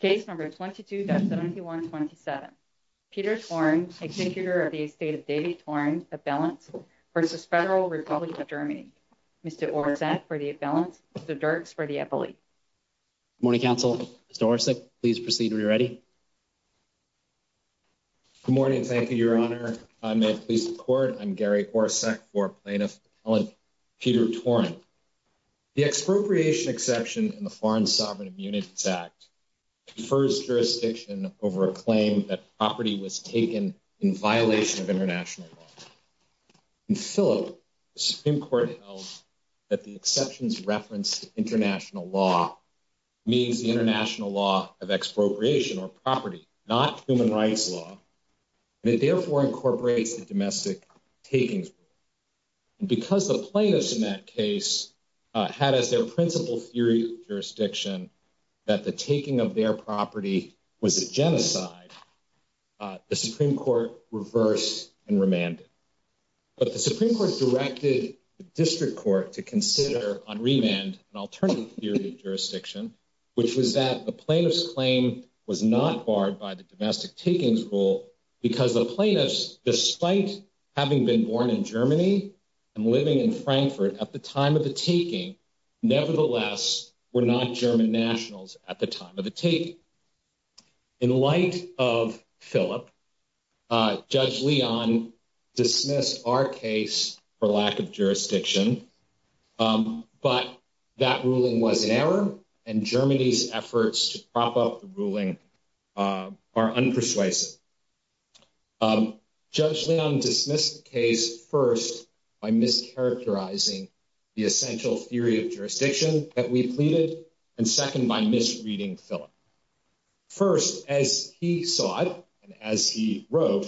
Case No. 22-7127. Peter Toren, executor of the estate of David Toren, abelants, v. Federal Republic of Germany. Mr. Orsek, for the abelants. Mr. Dirks, for the epaulets. Good morning, counsel. Mr. Orsek, please proceed when you're ready. Good morning. Thank you, Your Honor. May it please the Court, I'm Gary Orsek, for Plaintiff Peter Toren. The expropriation exception in the Foreign Sovereign Immunities Act defers jurisdiction over a claim that property was taken in violation of international law. In Philip, the Supreme Court held that the exception's reference to international law means the international law of expropriation or property, not human rights law. And it therefore incorporates the domestic takings rule. And because the plaintiffs in that case had as their principal theory of jurisdiction that the taking of their property was a genocide, the Supreme Court reversed and remanded. But the Supreme Court directed the district court to consider on remand an alternative theory of jurisdiction, which was that the plaintiff's claim was not barred by the domestic takings rule because the plaintiffs, despite having been born in Germany and living in Frankfurt at the time of the taking, nevertheless were not German nationals at the time of the taking. In light of Philip, Judge Leon dismissed our case for lack of jurisdiction. But that ruling was an error, and Germany's efforts to prop up the ruling are unpersuasive. Judge Leon dismissed the case, first, by mischaracterizing the essential theory of jurisdiction that we pleaded, and second, by misreading Philip. First, as he saw it, and as he wrote,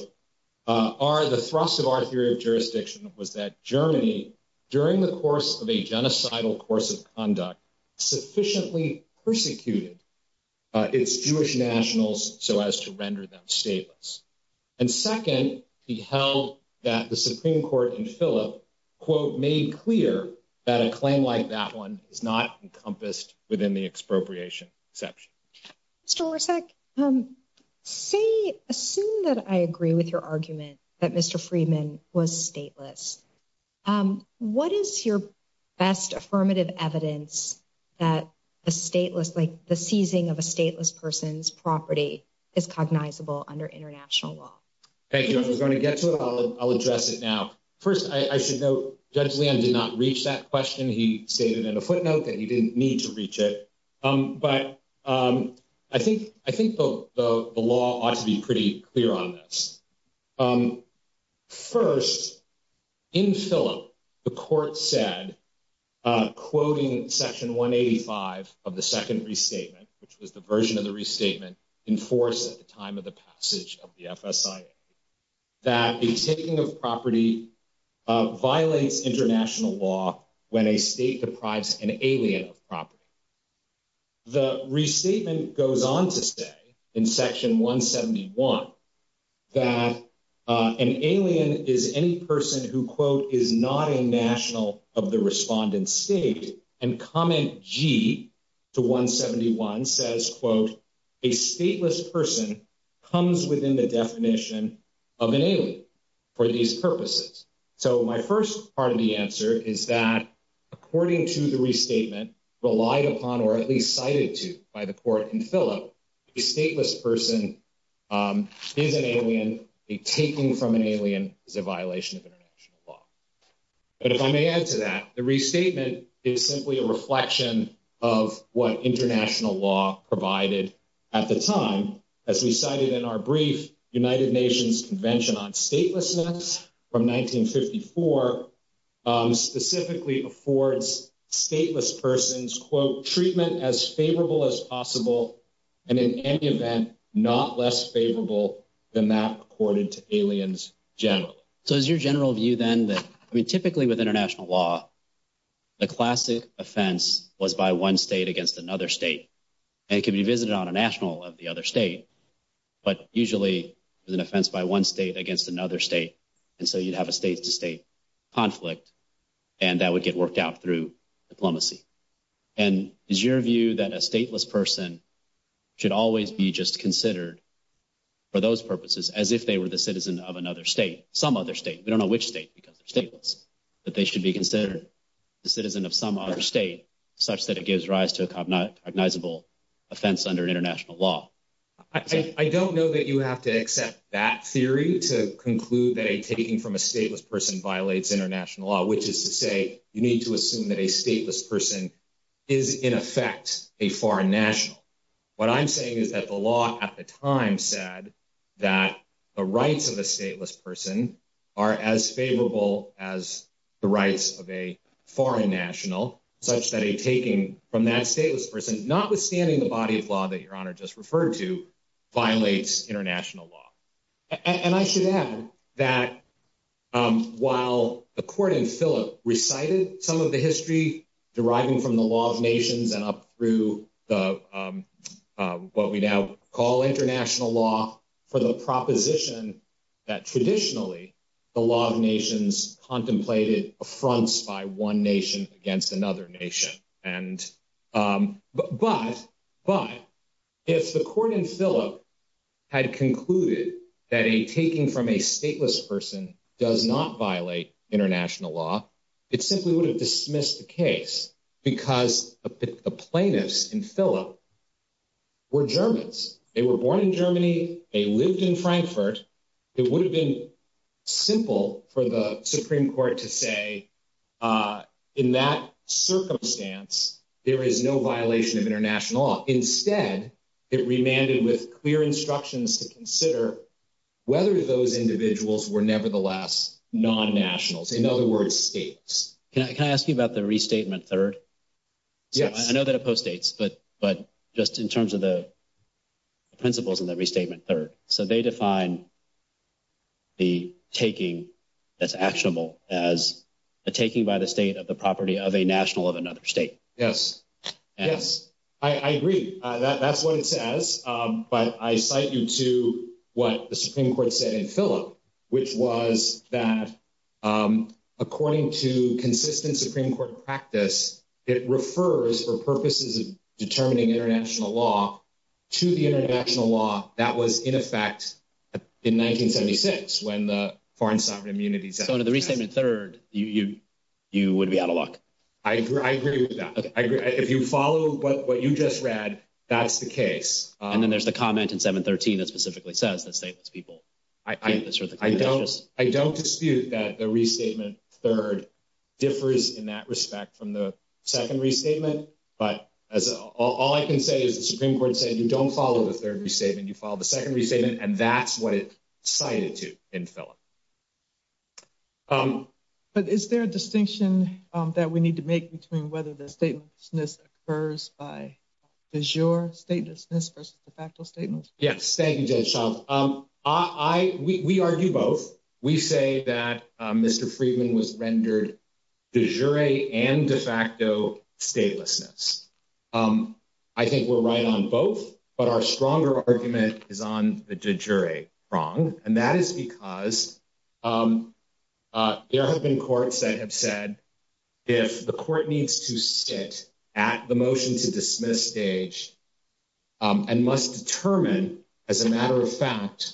the thrust of our theory of jurisdiction was that Germany, during the course of a genocidal course of conduct, sufficiently persecuted its Jewish nationals so as to render them stateless. And second, he held that the Supreme Court in Philip, quote, made clear that a claim like that one is not encompassed within the expropriation exception. Mr. Lorsak, say, assume that I agree with your argument that Mr. Friedman was stateless. What is your best affirmative evidence that a stateless, like the seizing of a stateless person's property is cognizable under international law? Thank you. I was going to get to it. I'll address it now. First, I should note Judge Leon did not reach that question. He stated in a footnote that he didn't need to reach it. But I think the law ought to be pretty clear on this. First, in Philip, the court said, quoting section 185 of the second restatement, which was the version of the restatement enforced at the time of the passage of the FSIA, that the taking of property violates international law when a state deprives an alien of property. The restatement goes on to say, in section 171, that an alien is any person who, quote, is not a national of the respondent state. And comment G to 171 says, quote, a stateless person comes within the definition of an alien for these purposes. So my first part of the answer is that, according to the restatement relied upon, or at least cited to by the court in Philip, a stateless person is an alien. A taking from an alien is a violation of international law. But if I may add to that, the restatement is simply a reflection of what international law provided at the time. As we cited in our brief, United Nations Convention on Statelessness from 1954 specifically affords stateless persons, quote, treatment as favorable as possible. And in any event, not less favorable than that accorded to aliens generally. So is your general view then that, I mean, typically with international law, the classic offense was by one state against another state. And it could be visited on a national of the other state. But usually there's an offense by one state against another state. And so you'd have a state to state conflict. And that would get worked out through diplomacy. And is your view that a stateless person should always be just considered for those purposes as if they were the citizen of another state? Some other state. We don't know which state because they're stateless. That they should be considered the citizen of some other state such that it gives rise to a cognizable offense under international law? I don't know that you have to accept that theory to conclude that a taking from a stateless person violates international law, which is to say you need to assume that a stateless person is, in effect, a foreign national. What I'm saying is that the law at the time said that the rights of a stateless person are as favorable as the rights of a foreign national, such that a taking from that stateless person, notwithstanding the body of law that Your Honor just referred to, violates international law. And I should add that while the court in Philip recited some of the history deriving from the law of nations and up through what we now call international law, for the proposition that traditionally the law of nations contemplated affronts by one nation against another nation. But if the court in Philip had concluded that a taking from a stateless person does not violate international law, it simply would have dismissed the case because the plaintiffs in Philip were Germans. They were born in Germany. They lived in Frankfurt. It would have been simple for the Supreme Court to say, in that circumstance, there is no violation of international law. Instead, it remanded with clear instructions to consider whether those individuals were nevertheless non-nationals, in other words, states. Can I ask you about the restatement third? Yes. I know that opposed states, but just in terms of the principles in the restatement third. So they define the taking that's actionable as a taking by the state of the property of a national of another state. Yes. Yes, I agree. That's what it says. But I cite you to what the Supreme Court said in Philip, which was that according to consistent Supreme Court practice, it refers for purposes of determining international law to the international law that was in effect in 1976 when the foreign sovereign immunity. So to the restatement third, you would be out of luck. I agree with that. If you follow what you just read, that's the case. And then there's the comment in 713 that specifically says that stateless people. I don't dispute that the restatement third differs in that respect from the second restatement. But as all I can say is the Supreme Court said you don't follow the third restatement. You follow the second restatement. And that's what it cited to in Philip. But is there a distinction that we need to make between whether the statelessness occurs by is your statelessness versus the factual statements? Yes. Thank you. I. We argue both. We say that Mr. Friedman was rendered de jure and de facto statelessness. I think we're right on both. But our stronger argument is on the jury wrong. And that is because there have been courts that have said if the court needs to sit at the motion to dismiss stage and must determine as a matter of fact,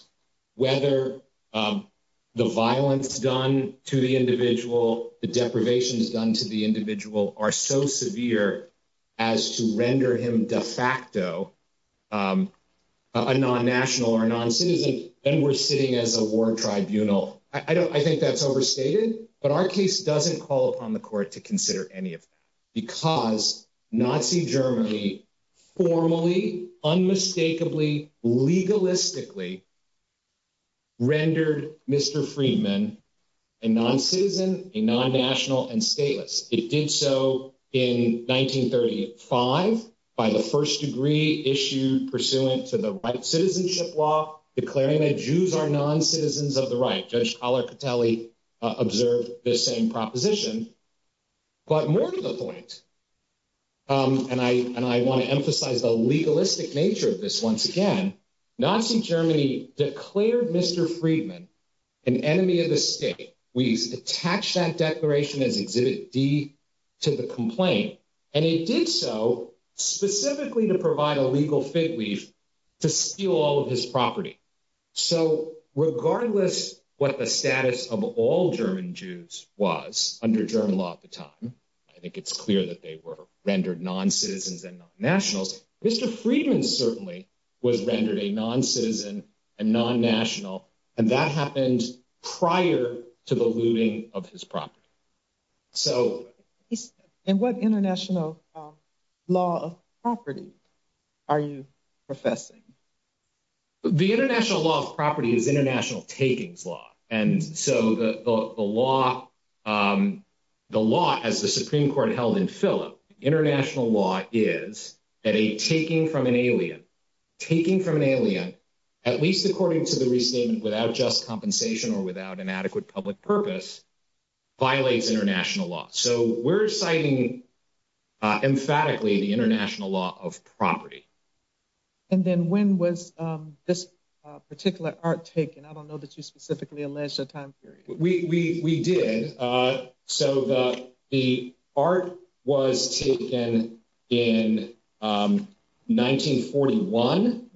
whether the violence done to the individual, the deprivation is done to the individual are so severe as to render him de facto a non-national or non-citizen. And we're sitting as a war tribunal. I think that's overstated. But our case doesn't call upon the court to consider any of that because Nazi Germany formally, unmistakably, legalistically rendered Mr. Friedman a non-citizen, a non-national and stateless. It did so in 1935 by the first degree issued pursuant to the right citizenship law, declaring that Jews are non-citizens of the right. Judge Collar Catelli observed the same proposition. But more to the point, and I want to emphasize the legalistic nature of this once again, Nazi Germany declared Mr. Friedman an enemy of the state. We attach that declaration as Exhibit D to the complaint. And it did so specifically to provide a legal fig leaf to steal all of his property. So regardless what the status of all German Jews was under German law at the time, I think it's clear that they were rendered non-citizens and non-nationals. Mr. Friedman certainly was rendered a non-citizen and non-national, and that happened prior to the looting of his property. And what international law of property are you professing? The international law of property is international takings law. And so the law, as the Supreme Court held in Philip, international law is that a taking from an alien, taking from an alien, at least according to the restatement without just compensation or without an adequate public purpose, violates international law. So we're citing emphatically the international law of property. And then when was this particular art taken? I don't know that you specifically allege a time period. We did. So the art was taken in 1941.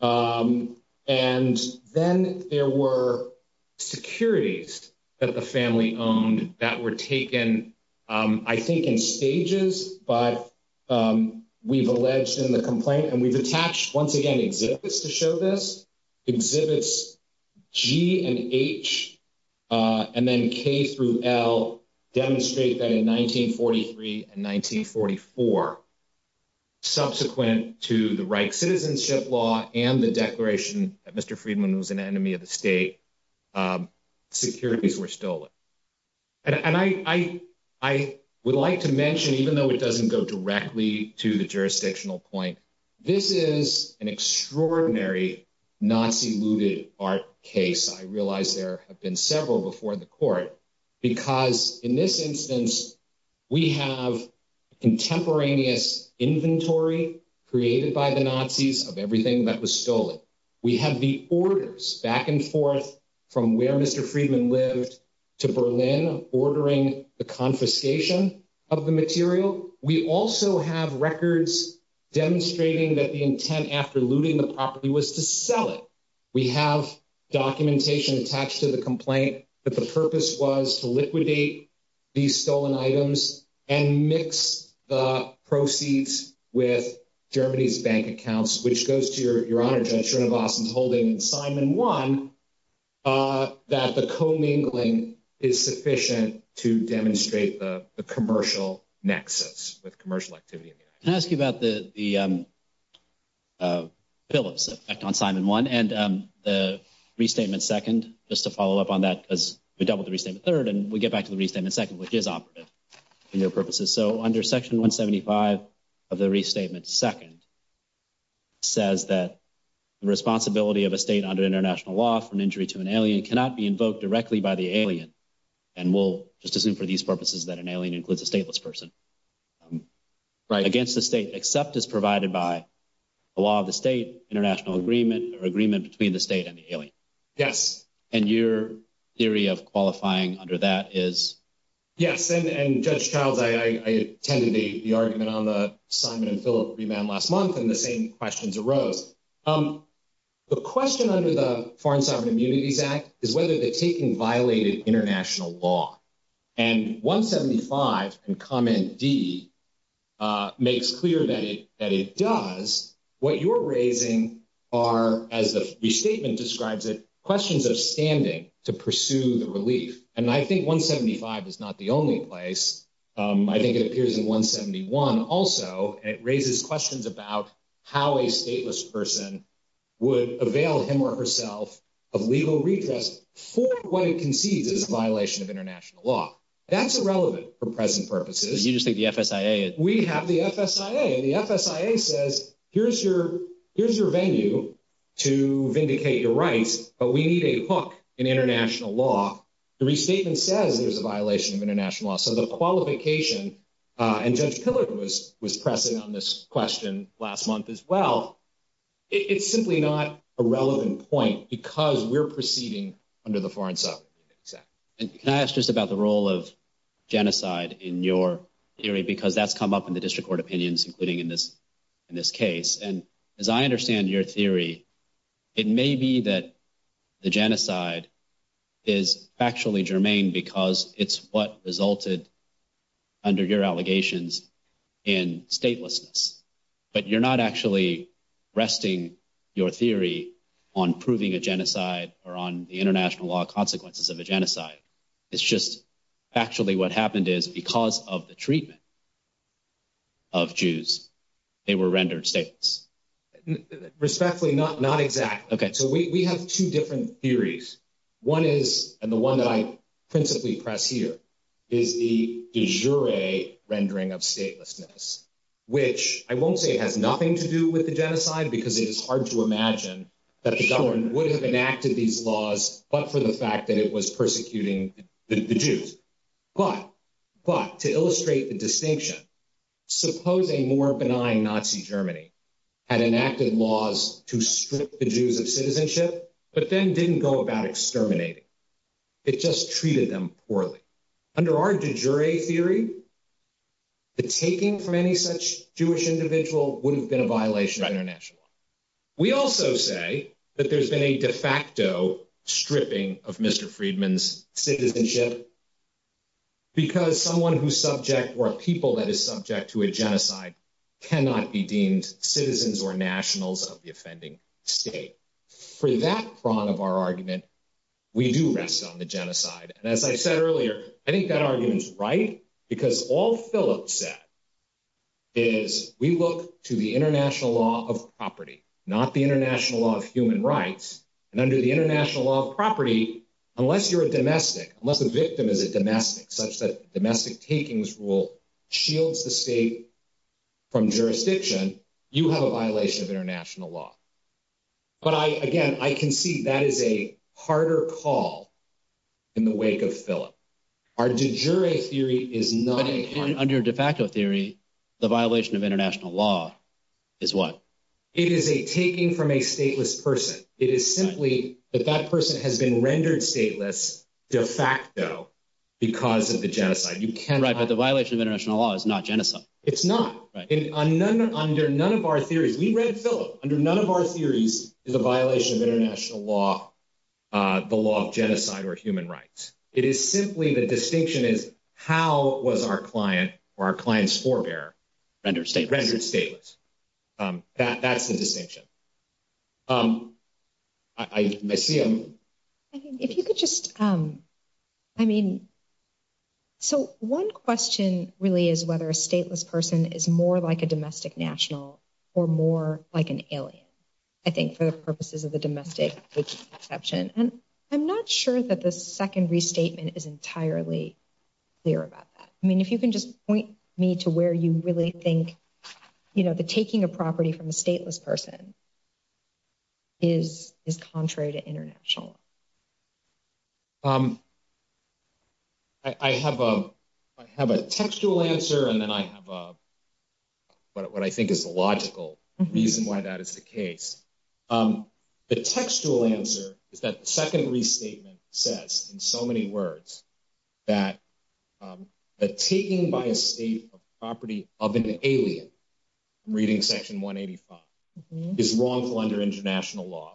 And then there were securities that the family owned that were taken, I think, in stages, but we've alleged in the complaint, and we've attached, once again, exhibits to show this. Exhibits G and H and then K through L demonstrate that in 1943 and 1944, subsequent to the Reich Citizenship Law and the declaration that Mr. Friedman was an enemy of the state, securities were stolen. And I would like to mention, even though it doesn't go directly to the jurisdictional point, this is an extraordinary Nazi-looted art case. I realize there have been several before the court, because in this instance, we have contemporaneous inventory created by the Nazis of everything that was stolen. We have the orders back and forth from where Mr. Friedman lived to Berlin, ordering the confiscation of the material. We also have records demonstrating that the intent after looting the property was to sell it. We have documentation attached to the complaint that the purpose was to liquidate these stolen items and mix the proceeds with Germany's bank accounts, which goes to Your Honor, Judge Srinivasan's holding in Simon 1, that the commingling is sufficient to demonstrate the commercial nexus with commercial activity in the United States. Can I ask you about the bill of effect on Simon 1 and the Restatement 2nd, just to follow up on that, because we doubled the Restatement 3rd and we get back to the Restatement 2nd, which is operative for your purposes. So under Section 175 of the Restatement 2nd, it says that the responsibility of a state under international law for an injury to an alien cannot be invoked directly by the alien. And we'll just assume for these purposes that an alien includes a stateless person. Right. Against the state, except as provided by the law of the state, international agreement or agreement between the state and the alien. Yes. And your theory of qualifying under that is? Yes. And Judge Childs, I attended the argument on the Simon and Philip remand last month, and the same questions arose. The question under the Foreign Sovereign Immunities Act is whether the taking violated international law. And 175 in Comment D makes clear that it does. What you're raising are, as the restatement describes it, questions of standing to pursue the relief. And I think 175 is not the only place. I think it appears in 171 also, and it raises questions about how a stateless person would avail him or herself of legal redress for what it concedes is a violation of international law. That's irrelevant for present purposes. You just think the FSIA. We have the FSIA. The FSIA says, here's your venue to vindicate your rights, but we need a hook in international law. The restatement says there's a violation of international law. So the qualification, and Judge Pillard was pressing on this question last month as well, it's simply not a relevant point because we're proceeding under the Foreign Sovereign Immunities Act. Can I ask just about the role of genocide in your theory? Because that's come up in the district court opinions, including in this case. And as I understand your theory, it may be that the genocide is factually germane because it's what resulted under your allegations in statelessness. But you're not actually resting your theory on proving a genocide or on the international law consequences of a genocide. It's just factually what happened is because of the treatment of Jews, they were rendered stateless. Respectfully, not exactly. So we have two different theories. One is, and the one that I principally press here, is the de jure rendering of statelessness, which I won't say has nothing to do with the genocide because it is hard to imagine that the government would have enacted these laws but for the fact that it was persecuting the Jews. But to illustrate the distinction, suppose a more benign Nazi Germany had enacted laws to strip the Jews of citizenship but then didn't go about exterminating. It just treated them poorly. Under our de jure theory, the taking from any such Jewish individual would have been a violation of international law. We also say that there's been a de facto stripping of Mr. Friedman's citizenship because someone who's subject or a people that is subject to a genocide cannot be deemed citizens or nationals of the offending state. For that prong of our argument, we do rest on the genocide. And as I said earlier, I think that argument is right because all Philip said is we look to the international law of property, not the international law of human rights. And under the international law of property, unless you're a domestic, unless a victim is a domestic such that domestic takings rule shields the state from jurisdiction, you have a violation of international law. But I again, I can see that is a harder call in the wake of Philip. Our de jure theory is not under de facto theory. The violation of international law is what it is a taking from a stateless person. It is simply that that person has been rendered stateless de facto because of the genocide. You can write, but the violation of international law is not genocide. It's not. Under none of our theories, we read Philip. Under none of our theories is a violation of international law, the law of genocide or human rights. It is simply the distinction is how was our client or our client's forebear rendered stateless. That's the distinction. I see. If you could just, I mean, so one question really is whether a stateless person is more like a domestic national or more like an alien, I think, for the purposes of the domestic exception. And I'm not sure that the second restatement is entirely clear about that. I mean, if you can just point me to where you really think, you know, the taking a property from a stateless person. Is is contrary to international. I have a I have a textual answer and then I have a. But what I think is the logical reason why that is the case, the textual answer is that the second restatement says in so many words. That the taking by a state of property of an alien. Reading section 185 is wrongful under international law.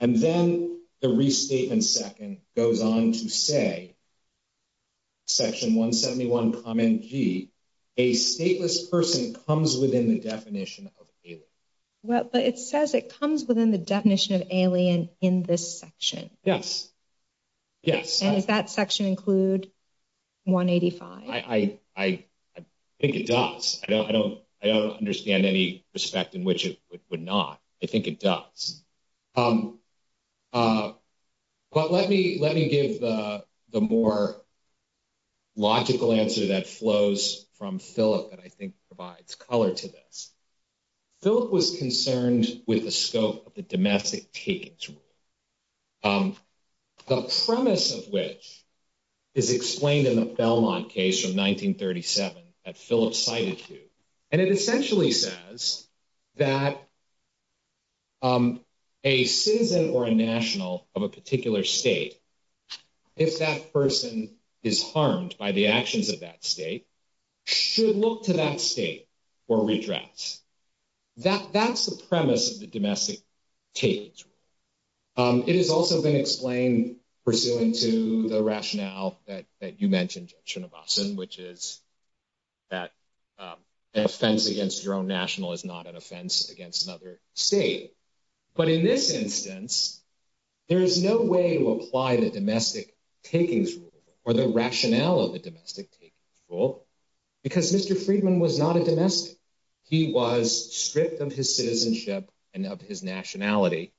And then the restatement second goes on to say. Section 171, a stateless person comes within the definition of. Well, it says it comes within the definition of alien in this section. Yes. Yes. Does that section include 185? I think it does. I don't I don't I don't understand any respect in which it would not. I think it does. But let me let me give the more. Logical answer that flows from Philip that I think provides color to this. Philip was concerned with the scope of the domestic take. The premise of which. Is explained in the Belmont case from 1937 that Philip cited you and it essentially says that. A citizen or a national of a particular state. If that person is harmed by the actions of that state. Should look to that state or redress. That that's the premise of the domestic. Take. It has also been explained pursuant to the rationale that that you mentioned, which is. That offense against your own national is not an offense against another state. But in this instance. There is no way to apply the domestic takings rule or the rationale of the domestic take. Because Mr. Friedman was not a domestic. He was stripped of his citizenship and of his nationality.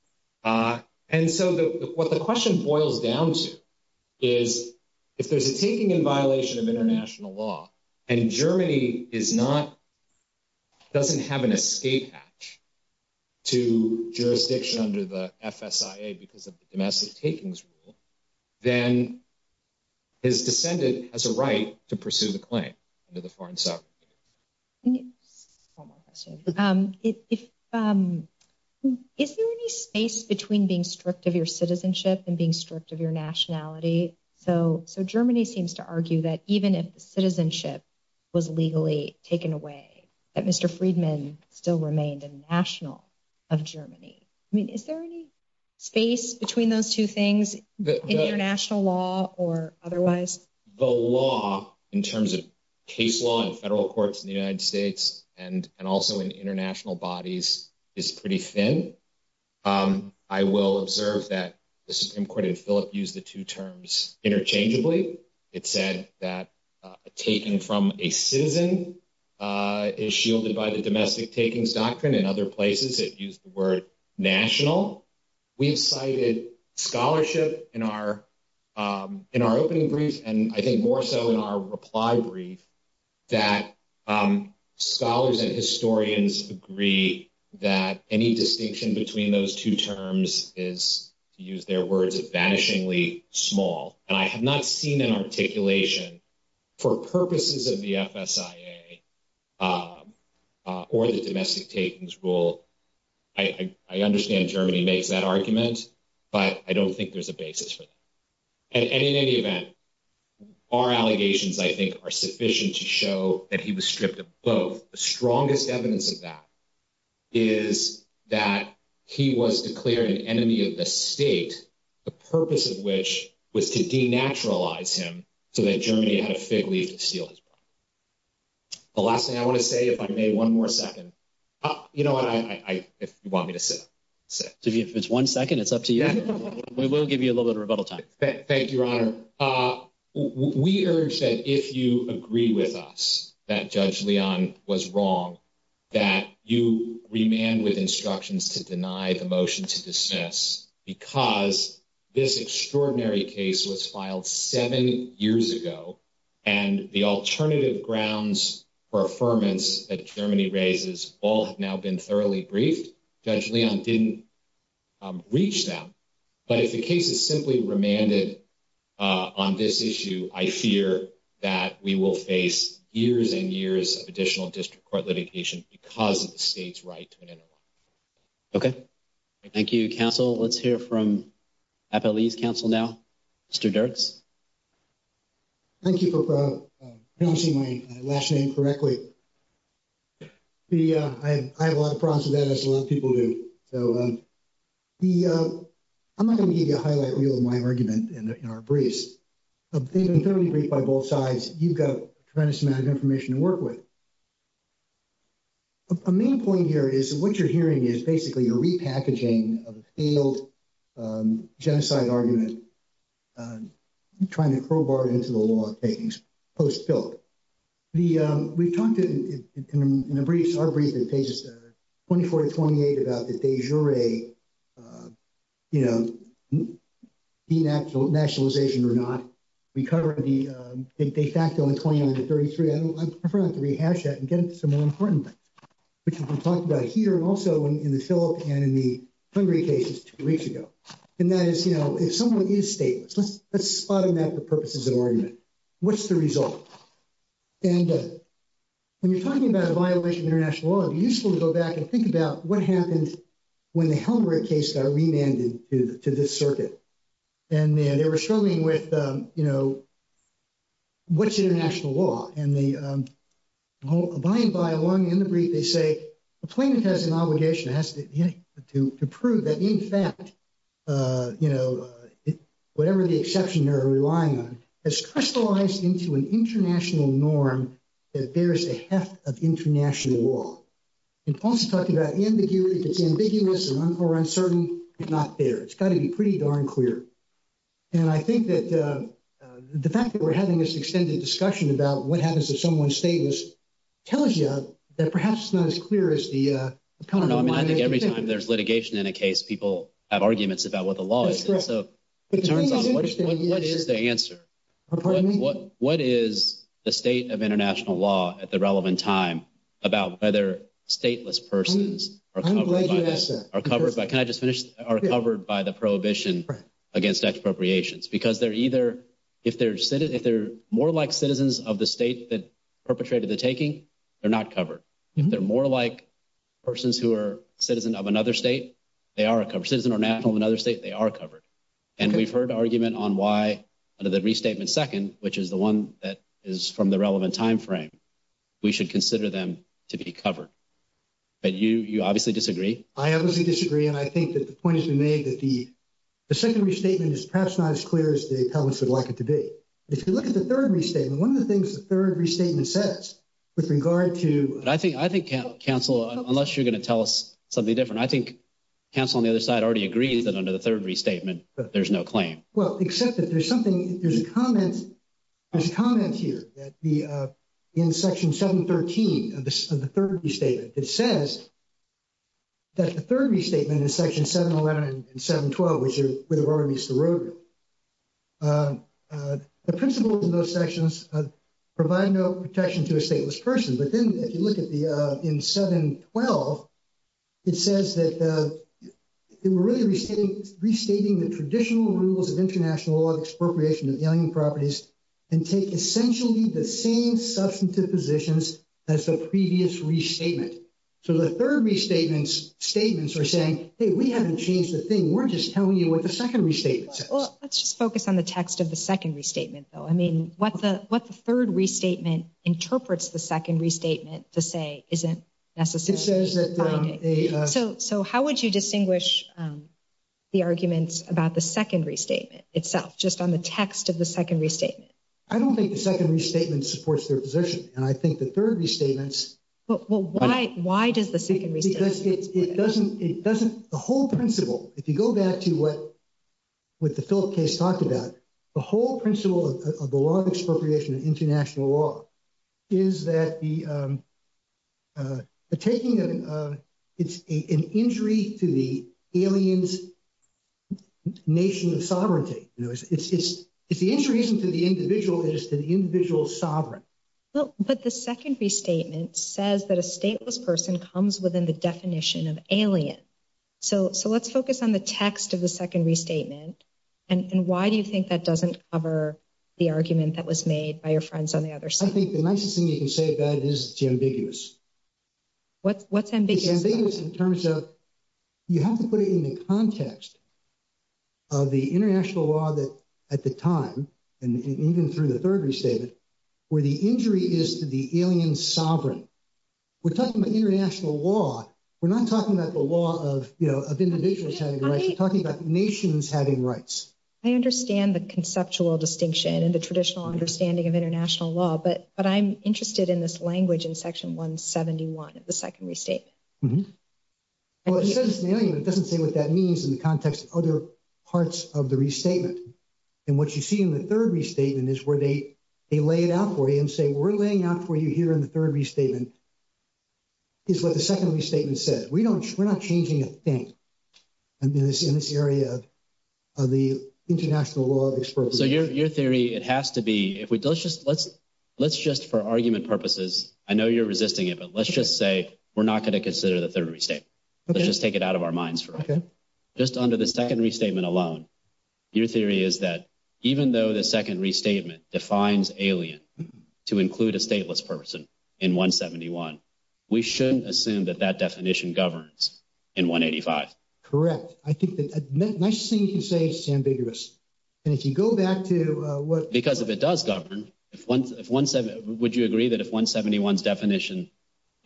And so what the question boils down to. Is if there's a taking in violation of international law and Germany is not. Doesn't have an escape. To jurisdiction under the FSIA because of the domestic takings rule. Then. His descendant has a right to pursue the claim under the foreign sovereign. If. Is there any space between being stripped of your citizenship and being stripped of your nationality? So, so Germany seems to argue that even if the citizenship. Was legally taken away that Mr. Friedman still remained a national. Of Germany. I mean, is there any space between those two things international law or otherwise the law in terms of case law and federal courts in the United States? And and also in international bodies is pretty thin. I will observe that the Supreme Court and Philip use the two terms interchangeably. It said that taking from a citizen is shielded by the domestic takings doctrine in other places. It used the word national. We've cited scholarship in our. In our opening brief, and I think more so in our reply brief. That scholars and historians agree that any distinction between those two terms is to use their words of vanishingly small and I have not seen an articulation. For purposes of the FSIA. Or the domestic takings rule. I, I understand Germany makes that argument, but I don't think there's a basis for that. And in any event. Our allegations, I think, are sufficient to show that he was stripped of both the strongest evidence of that. Is that he was declared an enemy of the state, the purpose of which was to denaturalize him so that Germany had a fig leaf to steal. The last thing I want to say, if I may, one more second. You know what I want me to say. If it's one second, it's up to you. We will give you a little bit of rebuttal time. Thank you, Your Honor. We urge that if you agree with us that Judge Leon was wrong. That you remand with instructions to deny the motion to dismiss because this extraordinary case was filed seven years ago. And the alternative grounds for affirmance that Germany raises all have now been thoroughly briefed. Judge Leon didn't reach them. But if the case is simply remanded on this issue, I fear that we will face years and years of additional district court litigation because of the state's right to an interim. Okay, thank you. Council, let's hear from Appalachian Council now. Mr. Dirks. Thank you for pronouncing my last name correctly. I have a lot of problems with that, as a lot of people do. So I'm not going to give you a highlight reel of my argument in our briefs. They've been thoroughly briefed by both sides. You've got a tremendous amount of information to work with. A main point here is what you're hearing is basically a repackaging of a failed genocide argument, trying to crowbar it into the law of takings post-bill. We've talked in our brief in pages 24 to 28 about the de jure, you know, denationalization or not. We covered the de facto in 29 to 33. I prefer not to rehash that and get into some more important things, which we've been talking about here and also in the Philip and in the Hungary cases two weeks ago. And that is, you know, if someone is stateless, let's spot them at the purposes of argument. What's the result? And when you're talking about a violation of international law, it would be useful to go back and think about what happened when the Helmholtz case got remanded to this circuit. And they were struggling with, you know, what's international law? And by and by, along in the brief, they say a plaintiff has an obligation to prove that in fact, you know, whatever the exception they're relying on has crystallized into an international norm that bears a heft of international law. And also talking about ambiguity, if it's ambiguous or uncertain, it's not there. It's got to be pretty darn clear. And I think that the fact that we're having this extended discussion about what happens if someone's stateless tells you that perhaps it's not as clear as the. No, I mean, I think every time there's litigation in a case, people have arguments about what the law is. What is the answer? What is the state of international law at the relevant time about whether stateless persons are covered by can I just finish are covered by the prohibition against expropriations? Because they're either if they're if they're more like citizens of the state that perpetrated the taking, they're not covered. If they're more like persons who are citizen of another state, they are a citizen or national another state. They are covered. And we've heard argument on why under the restatement second, which is the one that is from the relevant time frame, we should consider them to be covered. But you, you obviously disagree. I obviously disagree. And I think that the point has been made that the second restatement is perhaps not as clear as the public would like it to be. If you look at the third restatement, one of the things the third restatement says with regard to. I think I think counsel, unless you're going to tell us something different. I think counsel on the other side already agrees that under the third restatement, there's no claim. Well, except that there's something there's a comment. There's a comment here that the in section 713 of the third restatement, it says. That the third restatement is section 711 and 712, which are where the rubber meets the road. The principles of those sections provide no protection to a stateless person. But then if you look at the in 712, it says that they were really restating restating the traditional rules of international law of expropriation of alien properties and take essentially the same substantive positions as the previous restatement. So the third restatements statements are saying, hey, we haven't changed the thing. We're just telling you what the second restatement says. Well, let's just focus on the text of the second restatement, though. I mean, what the what the third restatement interprets the second restatement to say isn't necessary. So so how would you distinguish the arguments about the second restatement itself just on the text of the second restatement? I don't think the second restatement supports their position. And I think the third restatements. Well, why? Why does the second restatement support that? It doesn't it doesn't the whole principle, if you go back to what with the Philip case talked about, the whole principle of the law of expropriation of international law is that the taking of an injury to the aliens nation of sovereignty. It's the injury isn't to the individual, it is to the individual sovereign. Well, but the second restatement says that a stateless person comes within the definition of alien. So so let's focus on the text of the second restatement. And why do you think that doesn't cover the argument that was made by your friends on the other side? I think the nicest thing you can say about it is it's ambiguous. What's what's ambiguous? It's ambiguous in terms of you have to put it in the context of the international law that at the time, and even through the third restatement, where the injury is to the alien sovereign. We're talking about international law. We're not talking about the law of, you know, of individuals having rights. We're talking about nations having rights. I understand the conceptual distinction and the traditional understanding of international law. But but I'm interested in this language in Section 171 of the second restatement. Well, it says alien, but it doesn't say what that means in the context of other parts of the restatement. And what you see in the third restatement is where they lay it out for you and say, we're laying out for you here in the third restatement is what the second restatement says. We don't we're not changing a thing in this in this area of the international law. So your theory, it has to be if we don't just let's let's just for argument purposes. I know you're resisting it, but let's just say we're not going to consider the third restatement. Let's just take it out of our minds for just under the second restatement alone. Your theory is that even though the second restatement defines alien to include a stateless person in 171, we shouldn't assume that that definition governs in 185. Correct. I think that's a nice thing to say. It's ambiguous. And if you go back to what, because if it does govern, if 171, would you agree that if 171's definition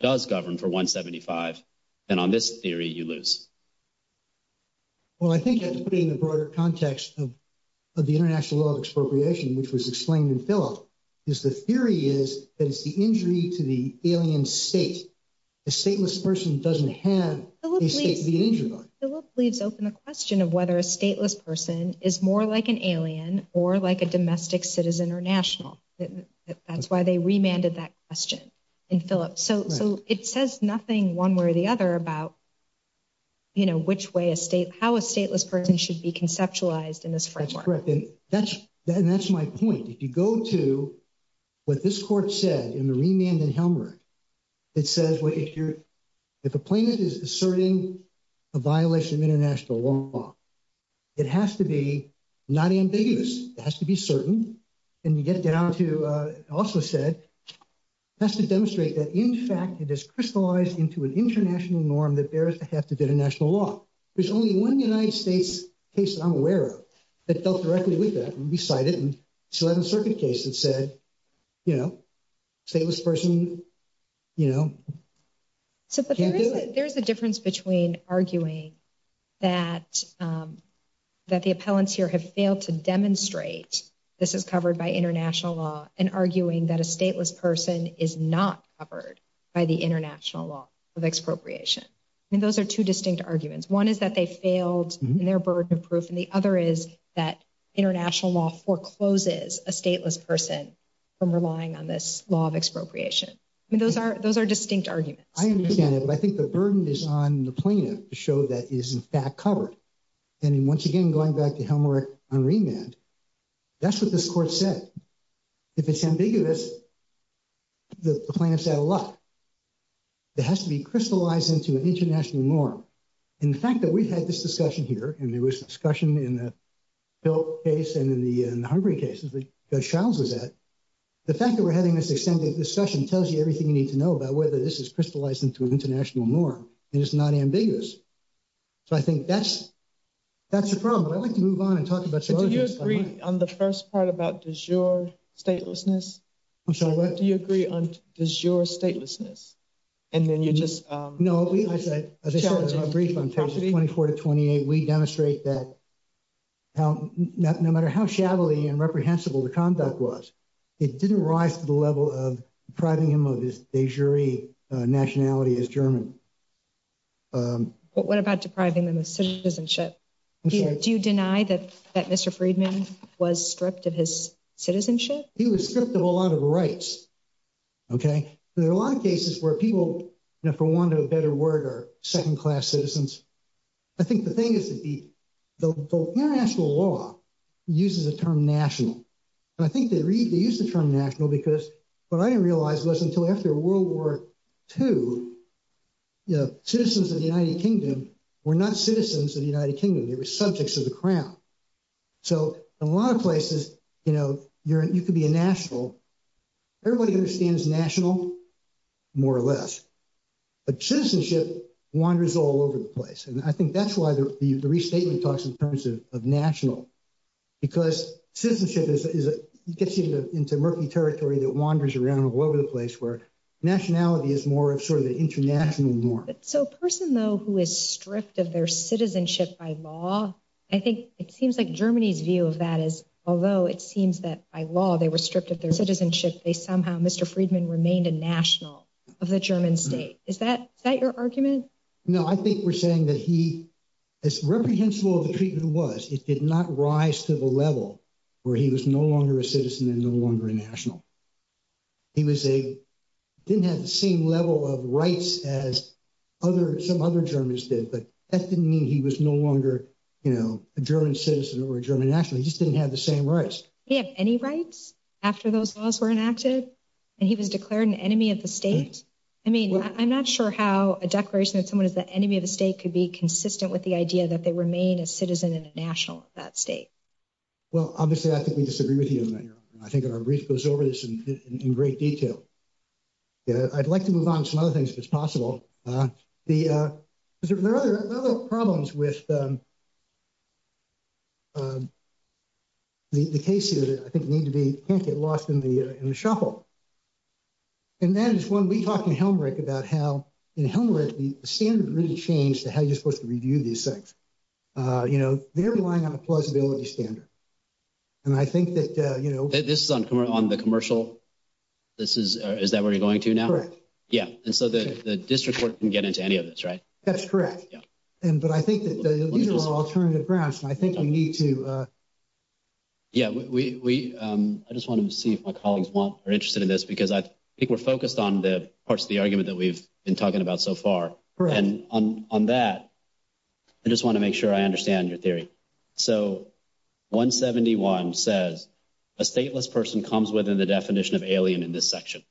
does govern for 175, then on this theory, you lose. Well, I think in the broader context of the international law of expropriation, which was explained in Philip, is the theory is that it's the injury to the alien state. A stateless person doesn't have the injury. Philip leaves open the question of whether a stateless person is more like an alien or like a domestic citizen or national. That's why they remanded that question in Philip. So it says nothing one way or the other about, you know, which way a state, how a stateless person should be conceptualized in this framework. That's correct. And that's my point. If you go to what this court said in the remand and helmet, it says, if a plaintiff is asserting a violation of international law, it has to be not ambiguous. It has to be certain. And you get down to, also said, it has to demonstrate that in fact, it is crystallized into an international norm that bears the hat of international law. There's only one United States case that I'm aware of that dealt directly with that. We cited an 11th Circuit case that said, you know, stateless person, you know, can't do it. There's a difference between arguing that the appellants here have failed to demonstrate this is covered by international law and arguing that a stateless person is not covered by the international law of expropriation. I mean, those are two distinct arguments. One is that they failed in their burden of proof. And the other is that international law forecloses a stateless person from relying on this law of expropriation. I mean, those are those are distinct arguments. I understand it. But I think the burden is on the plaintiff to show that is in fact covered. And once again, going back to Helmreich on remand, that's what this court said. If it's ambiguous, the plaintiff said a lot. It has to be crystallized into an international norm. In fact, that we've had this discussion here, and there was discussion in the case and in the Hungary cases that Judge Shiles was at. The fact that we're having this extended discussion tells you everything you need to know about whether this is crystallized into an international norm, and it's not ambiguous. So I think that's, that's the problem. I'd like to move on and talk about. Do you agree on the first part about de jure statelessness? Do you agree on de jure statelessness? And then you just. No, as I said, 24 to 28, we demonstrate that no matter how shadowy and reprehensible the conduct was, it didn't rise to the level of depriving him of his de jure nationality as German. What about depriving them of citizenship? Do you deny that that Mr. Friedman was stripped of his citizenship? He was stripped of a lot of rights. Okay. There are a lot of cases where people, for want of a better word, are second class citizens. I think the thing is that the international law uses the term national. And I think they use the term national because what I didn't realize was until after World War II, citizens of the United Kingdom were not citizens of the United Kingdom. They were subjects of the crown. So in a lot of places, you know, you could be a national. Everybody understands national, more or less. But citizenship wanders all over the place. And I think that's why the restatement talks in terms of national. Because citizenship gets you into murky territory that wanders around all over the place where nationality is more of sort of the international norm. So a person, though, who is stripped of their citizenship by law, I think it seems like Germany's view of that is, although it seems that by law they were stripped of their citizenship, they somehow, Mr. Friedman remained a national of the German state. Is that your argument? No, I think we're saying that he, as reprehensible as the treatment was, it did not rise to the level where he was no longer a citizen and no longer a national. He didn't have the same level of rights as some other Germans did, but that didn't mean he was no longer a German citizen or a German national. He just didn't have the same rights. He didn't have any rights after those laws were enacted? And he was declared an enemy of the state? I mean, I'm not sure how a declaration that someone is the enemy of the state could be consistent with the idea that they remain a citizen and a national of that state. Well, obviously, I think we disagree with you on that. I think our brief goes over this in great detail. I'd like to move on to some other things if it's possible. There are other problems with the case here that I think need to be, can't get lost in the shuffle. And that is when we talk in Helmreich about how, in Helmreich, the standard really changed to how you're supposed to review these things. You know, they're relying on a plausibility standard. And I think that, you know. This is on the commercial. This is, is that where you're going to now? Correct. Yeah. And so the district court can get into any of this, right? That's correct. But I think that these are all alternative grounds, and I think we need to. Yeah, we, I just want to see if my colleagues are interested in this, because I think we're focused on the parts of the argument that we've been talking about so far. And on that, I just want to make sure I understand your theory. So 171 says a stateless person comes within the definition of alien in this section.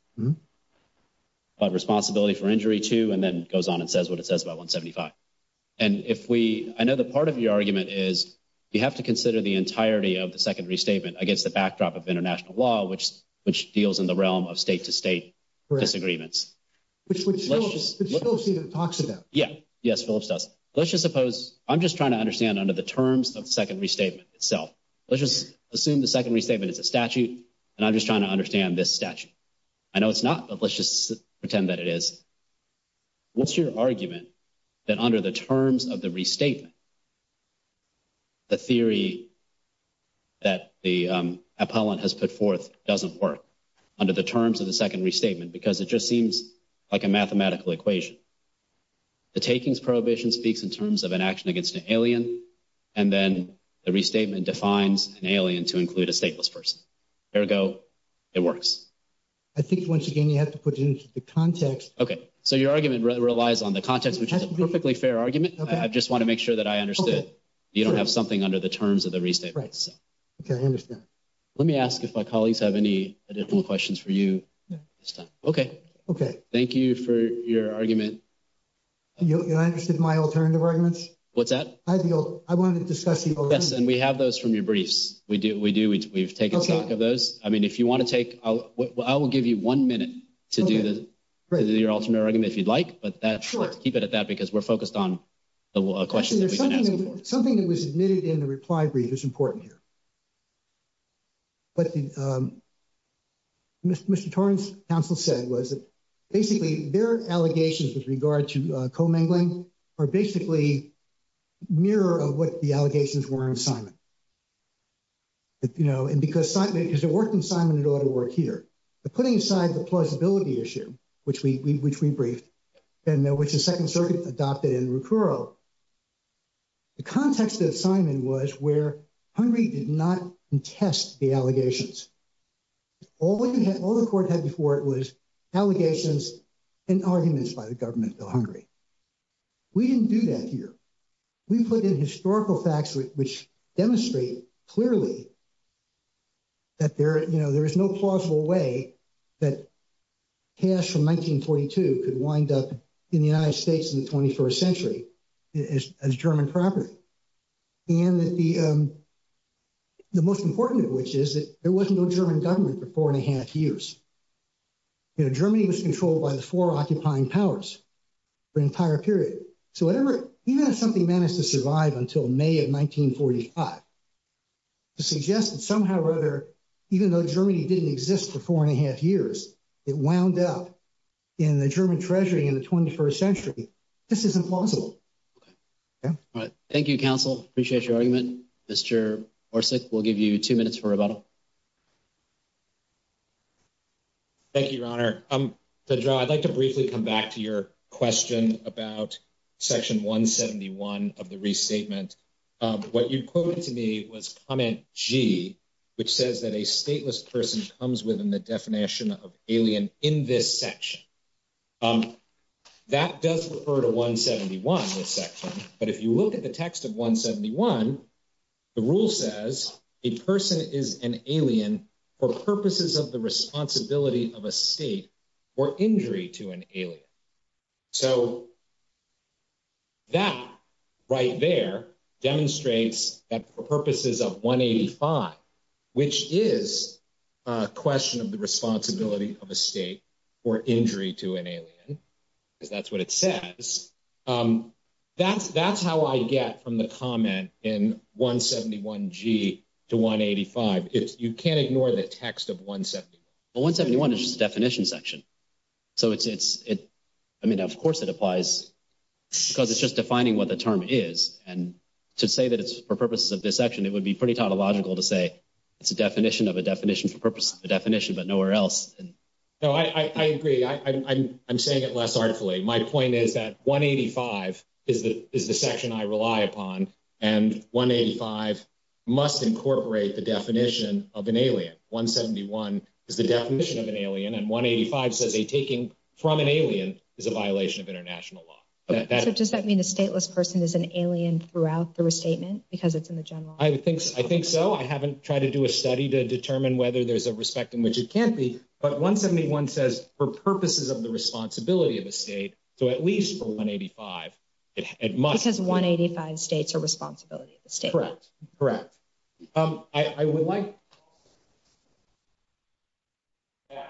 But responsibility for injury too, and then goes on and says what it says about 175. And if we, I know that part of your argument is you have to consider the entirety of the second restatement against the backdrop of international law, which, which deals in the realm of state to state disagreements. Correct. Which, which Phillips talks about. Yeah. Yes, Phillips does. Let's just suppose, I'm just trying to understand under the terms of the second restatement itself. Let's just assume the second restatement is a statute, and I'm just trying to understand this statute. I know it's not, but let's just pretend that it is. What's your argument that under the terms of the restatement, the theory that the appellant has put forth doesn't work under the terms of the second restatement? Because it just seems like a mathematical equation. The takings prohibition speaks in terms of an action against an alien, and then the restatement defines an alien to include a stateless person. Ergo, it works. I think once again, you have to put it into the context. So your argument relies on the context, which is a perfectly fair argument. I just want to make sure that I understood. You don't have something under the terms of the restatement. Okay, I understand. Let me ask if my colleagues have any additional questions for you. Okay. Okay. Thank you for your argument. You understood my alternative arguments? What's that? I wanted to discuss the alternative. Yes, and we have those from your briefs. We do. We do. We've taken stock of those. I mean, if you want to take, I will give you one minute to do your alternate argument if you'd like. But let's keep it at that because we're focused on the question that we've been asking for. Something that was admitted in the reply brief is important here. What Mr. Torrence's counsel said was that basically their allegations with regard to commingling are basically a mirror of what the allegations were in assignment. And because it worked in assignment, it ought to work here. But putting aside the plausibility issue, which we briefed, and which the Second Circuit adopted in Recuro, the context of assignment was where Hungary did not contest the allegations. All the court had before it was allegations and arguments by the government of Hungary. We didn't do that here. We put in historical facts which demonstrate clearly that there is no plausible way that cash from 1942 could wind up in the United States in the 21st century as German property. And the most important of which is that there was no German government for four and a half years. Germany was controlled by the four occupying powers for an entire period. So even if something managed to survive until May of 1945, to suggest that somehow or other, even though Germany didn't exist for four and a half years, it wound up in the German treasury in the 21st century, this is impossible. Thank you, counsel. Appreciate your argument. Mr. Orsik, we'll give you two minutes for rebuttal. Thank you, Your Honor. I'd like to briefly come back to your question about section 171 of the restatement. What you quoted to me was comment G, which says that a stateless person comes within the definition of alien in this section. That does refer to 171 in this section, but if you look at the text of 171, the rule says a person is an alien for purposes of the responsibility of a state or injury to an alien. So that right there demonstrates that for purposes of 185, which is a question of the responsibility of a state or injury to an alien, because that's what it says. That's how I get from the comment in 171 G to 185. You can't ignore the text of 171. Well, 171 is just a definition section. So it's, I mean, of course it applies, because it's just defining what the term is. And to say that it's for purposes of this section, it would be pretty tautological to say it's a definition of a definition for purposes of a definition, but nowhere else. No, I agree. I'm saying it less artfully. My point is that 185 is the section I rely upon, and 185 must incorporate the definition of an alien. 171 is the definition of an alien, and 185 says a taking from an alien is a violation of international law. Does that mean a stateless person is an alien throughout the restatement, because it's in the general law? I think so. I haven't tried to do a study to determine whether there's a respect in which it can't be. But 171 says for purposes of the responsibility of the state, so at least for 185, it must. Because 185 states are responsibility of the state. Correct. Correct. I would like to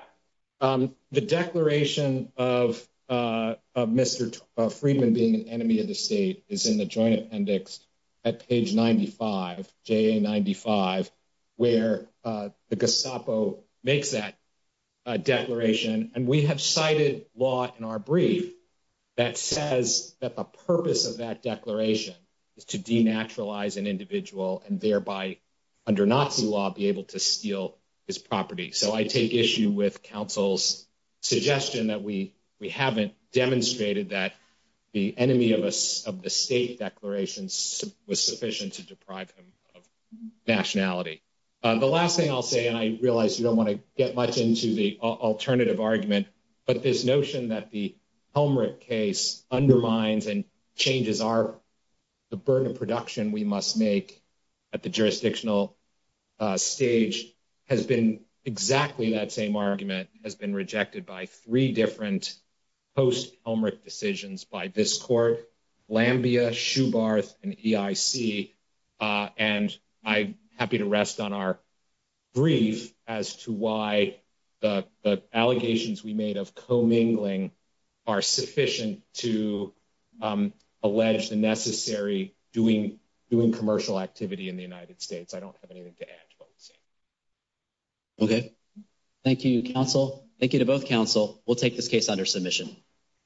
add, the declaration of Mr. Friedman being an enemy of the state is in the Joint Appendix at page 95, JA 95, where the Gestapo makes that declaration, and we have cited law in our brief that says that the purpose of that declaration is to denaturalize an individual and thereby, under Nazi law, be able to steal his property. So I take issue with counsel's suggestion that we haven't demonstrated that the enemy of the state declaration was sufficient to deprive him of nationality. The last thing I'll say, and I realize you don't want to get much into the alternative argument, but this notion that the Helmreich case undermines and changes the burden of production we must make at the jurisdictional stage has been exactly that same argument has been rejected by three different post-Helmreich decisions by this court, Lambia, Shubarth, and EIC. And I'm happy to rest on our brief as to why the allegations we made of commingling are sufficient to allege the necessary doing commercial activity in the United States. I don't have anything to add to what we've seen. Okay. Thank you, counsel. Thank you to both counsel. We'll take this case under submission.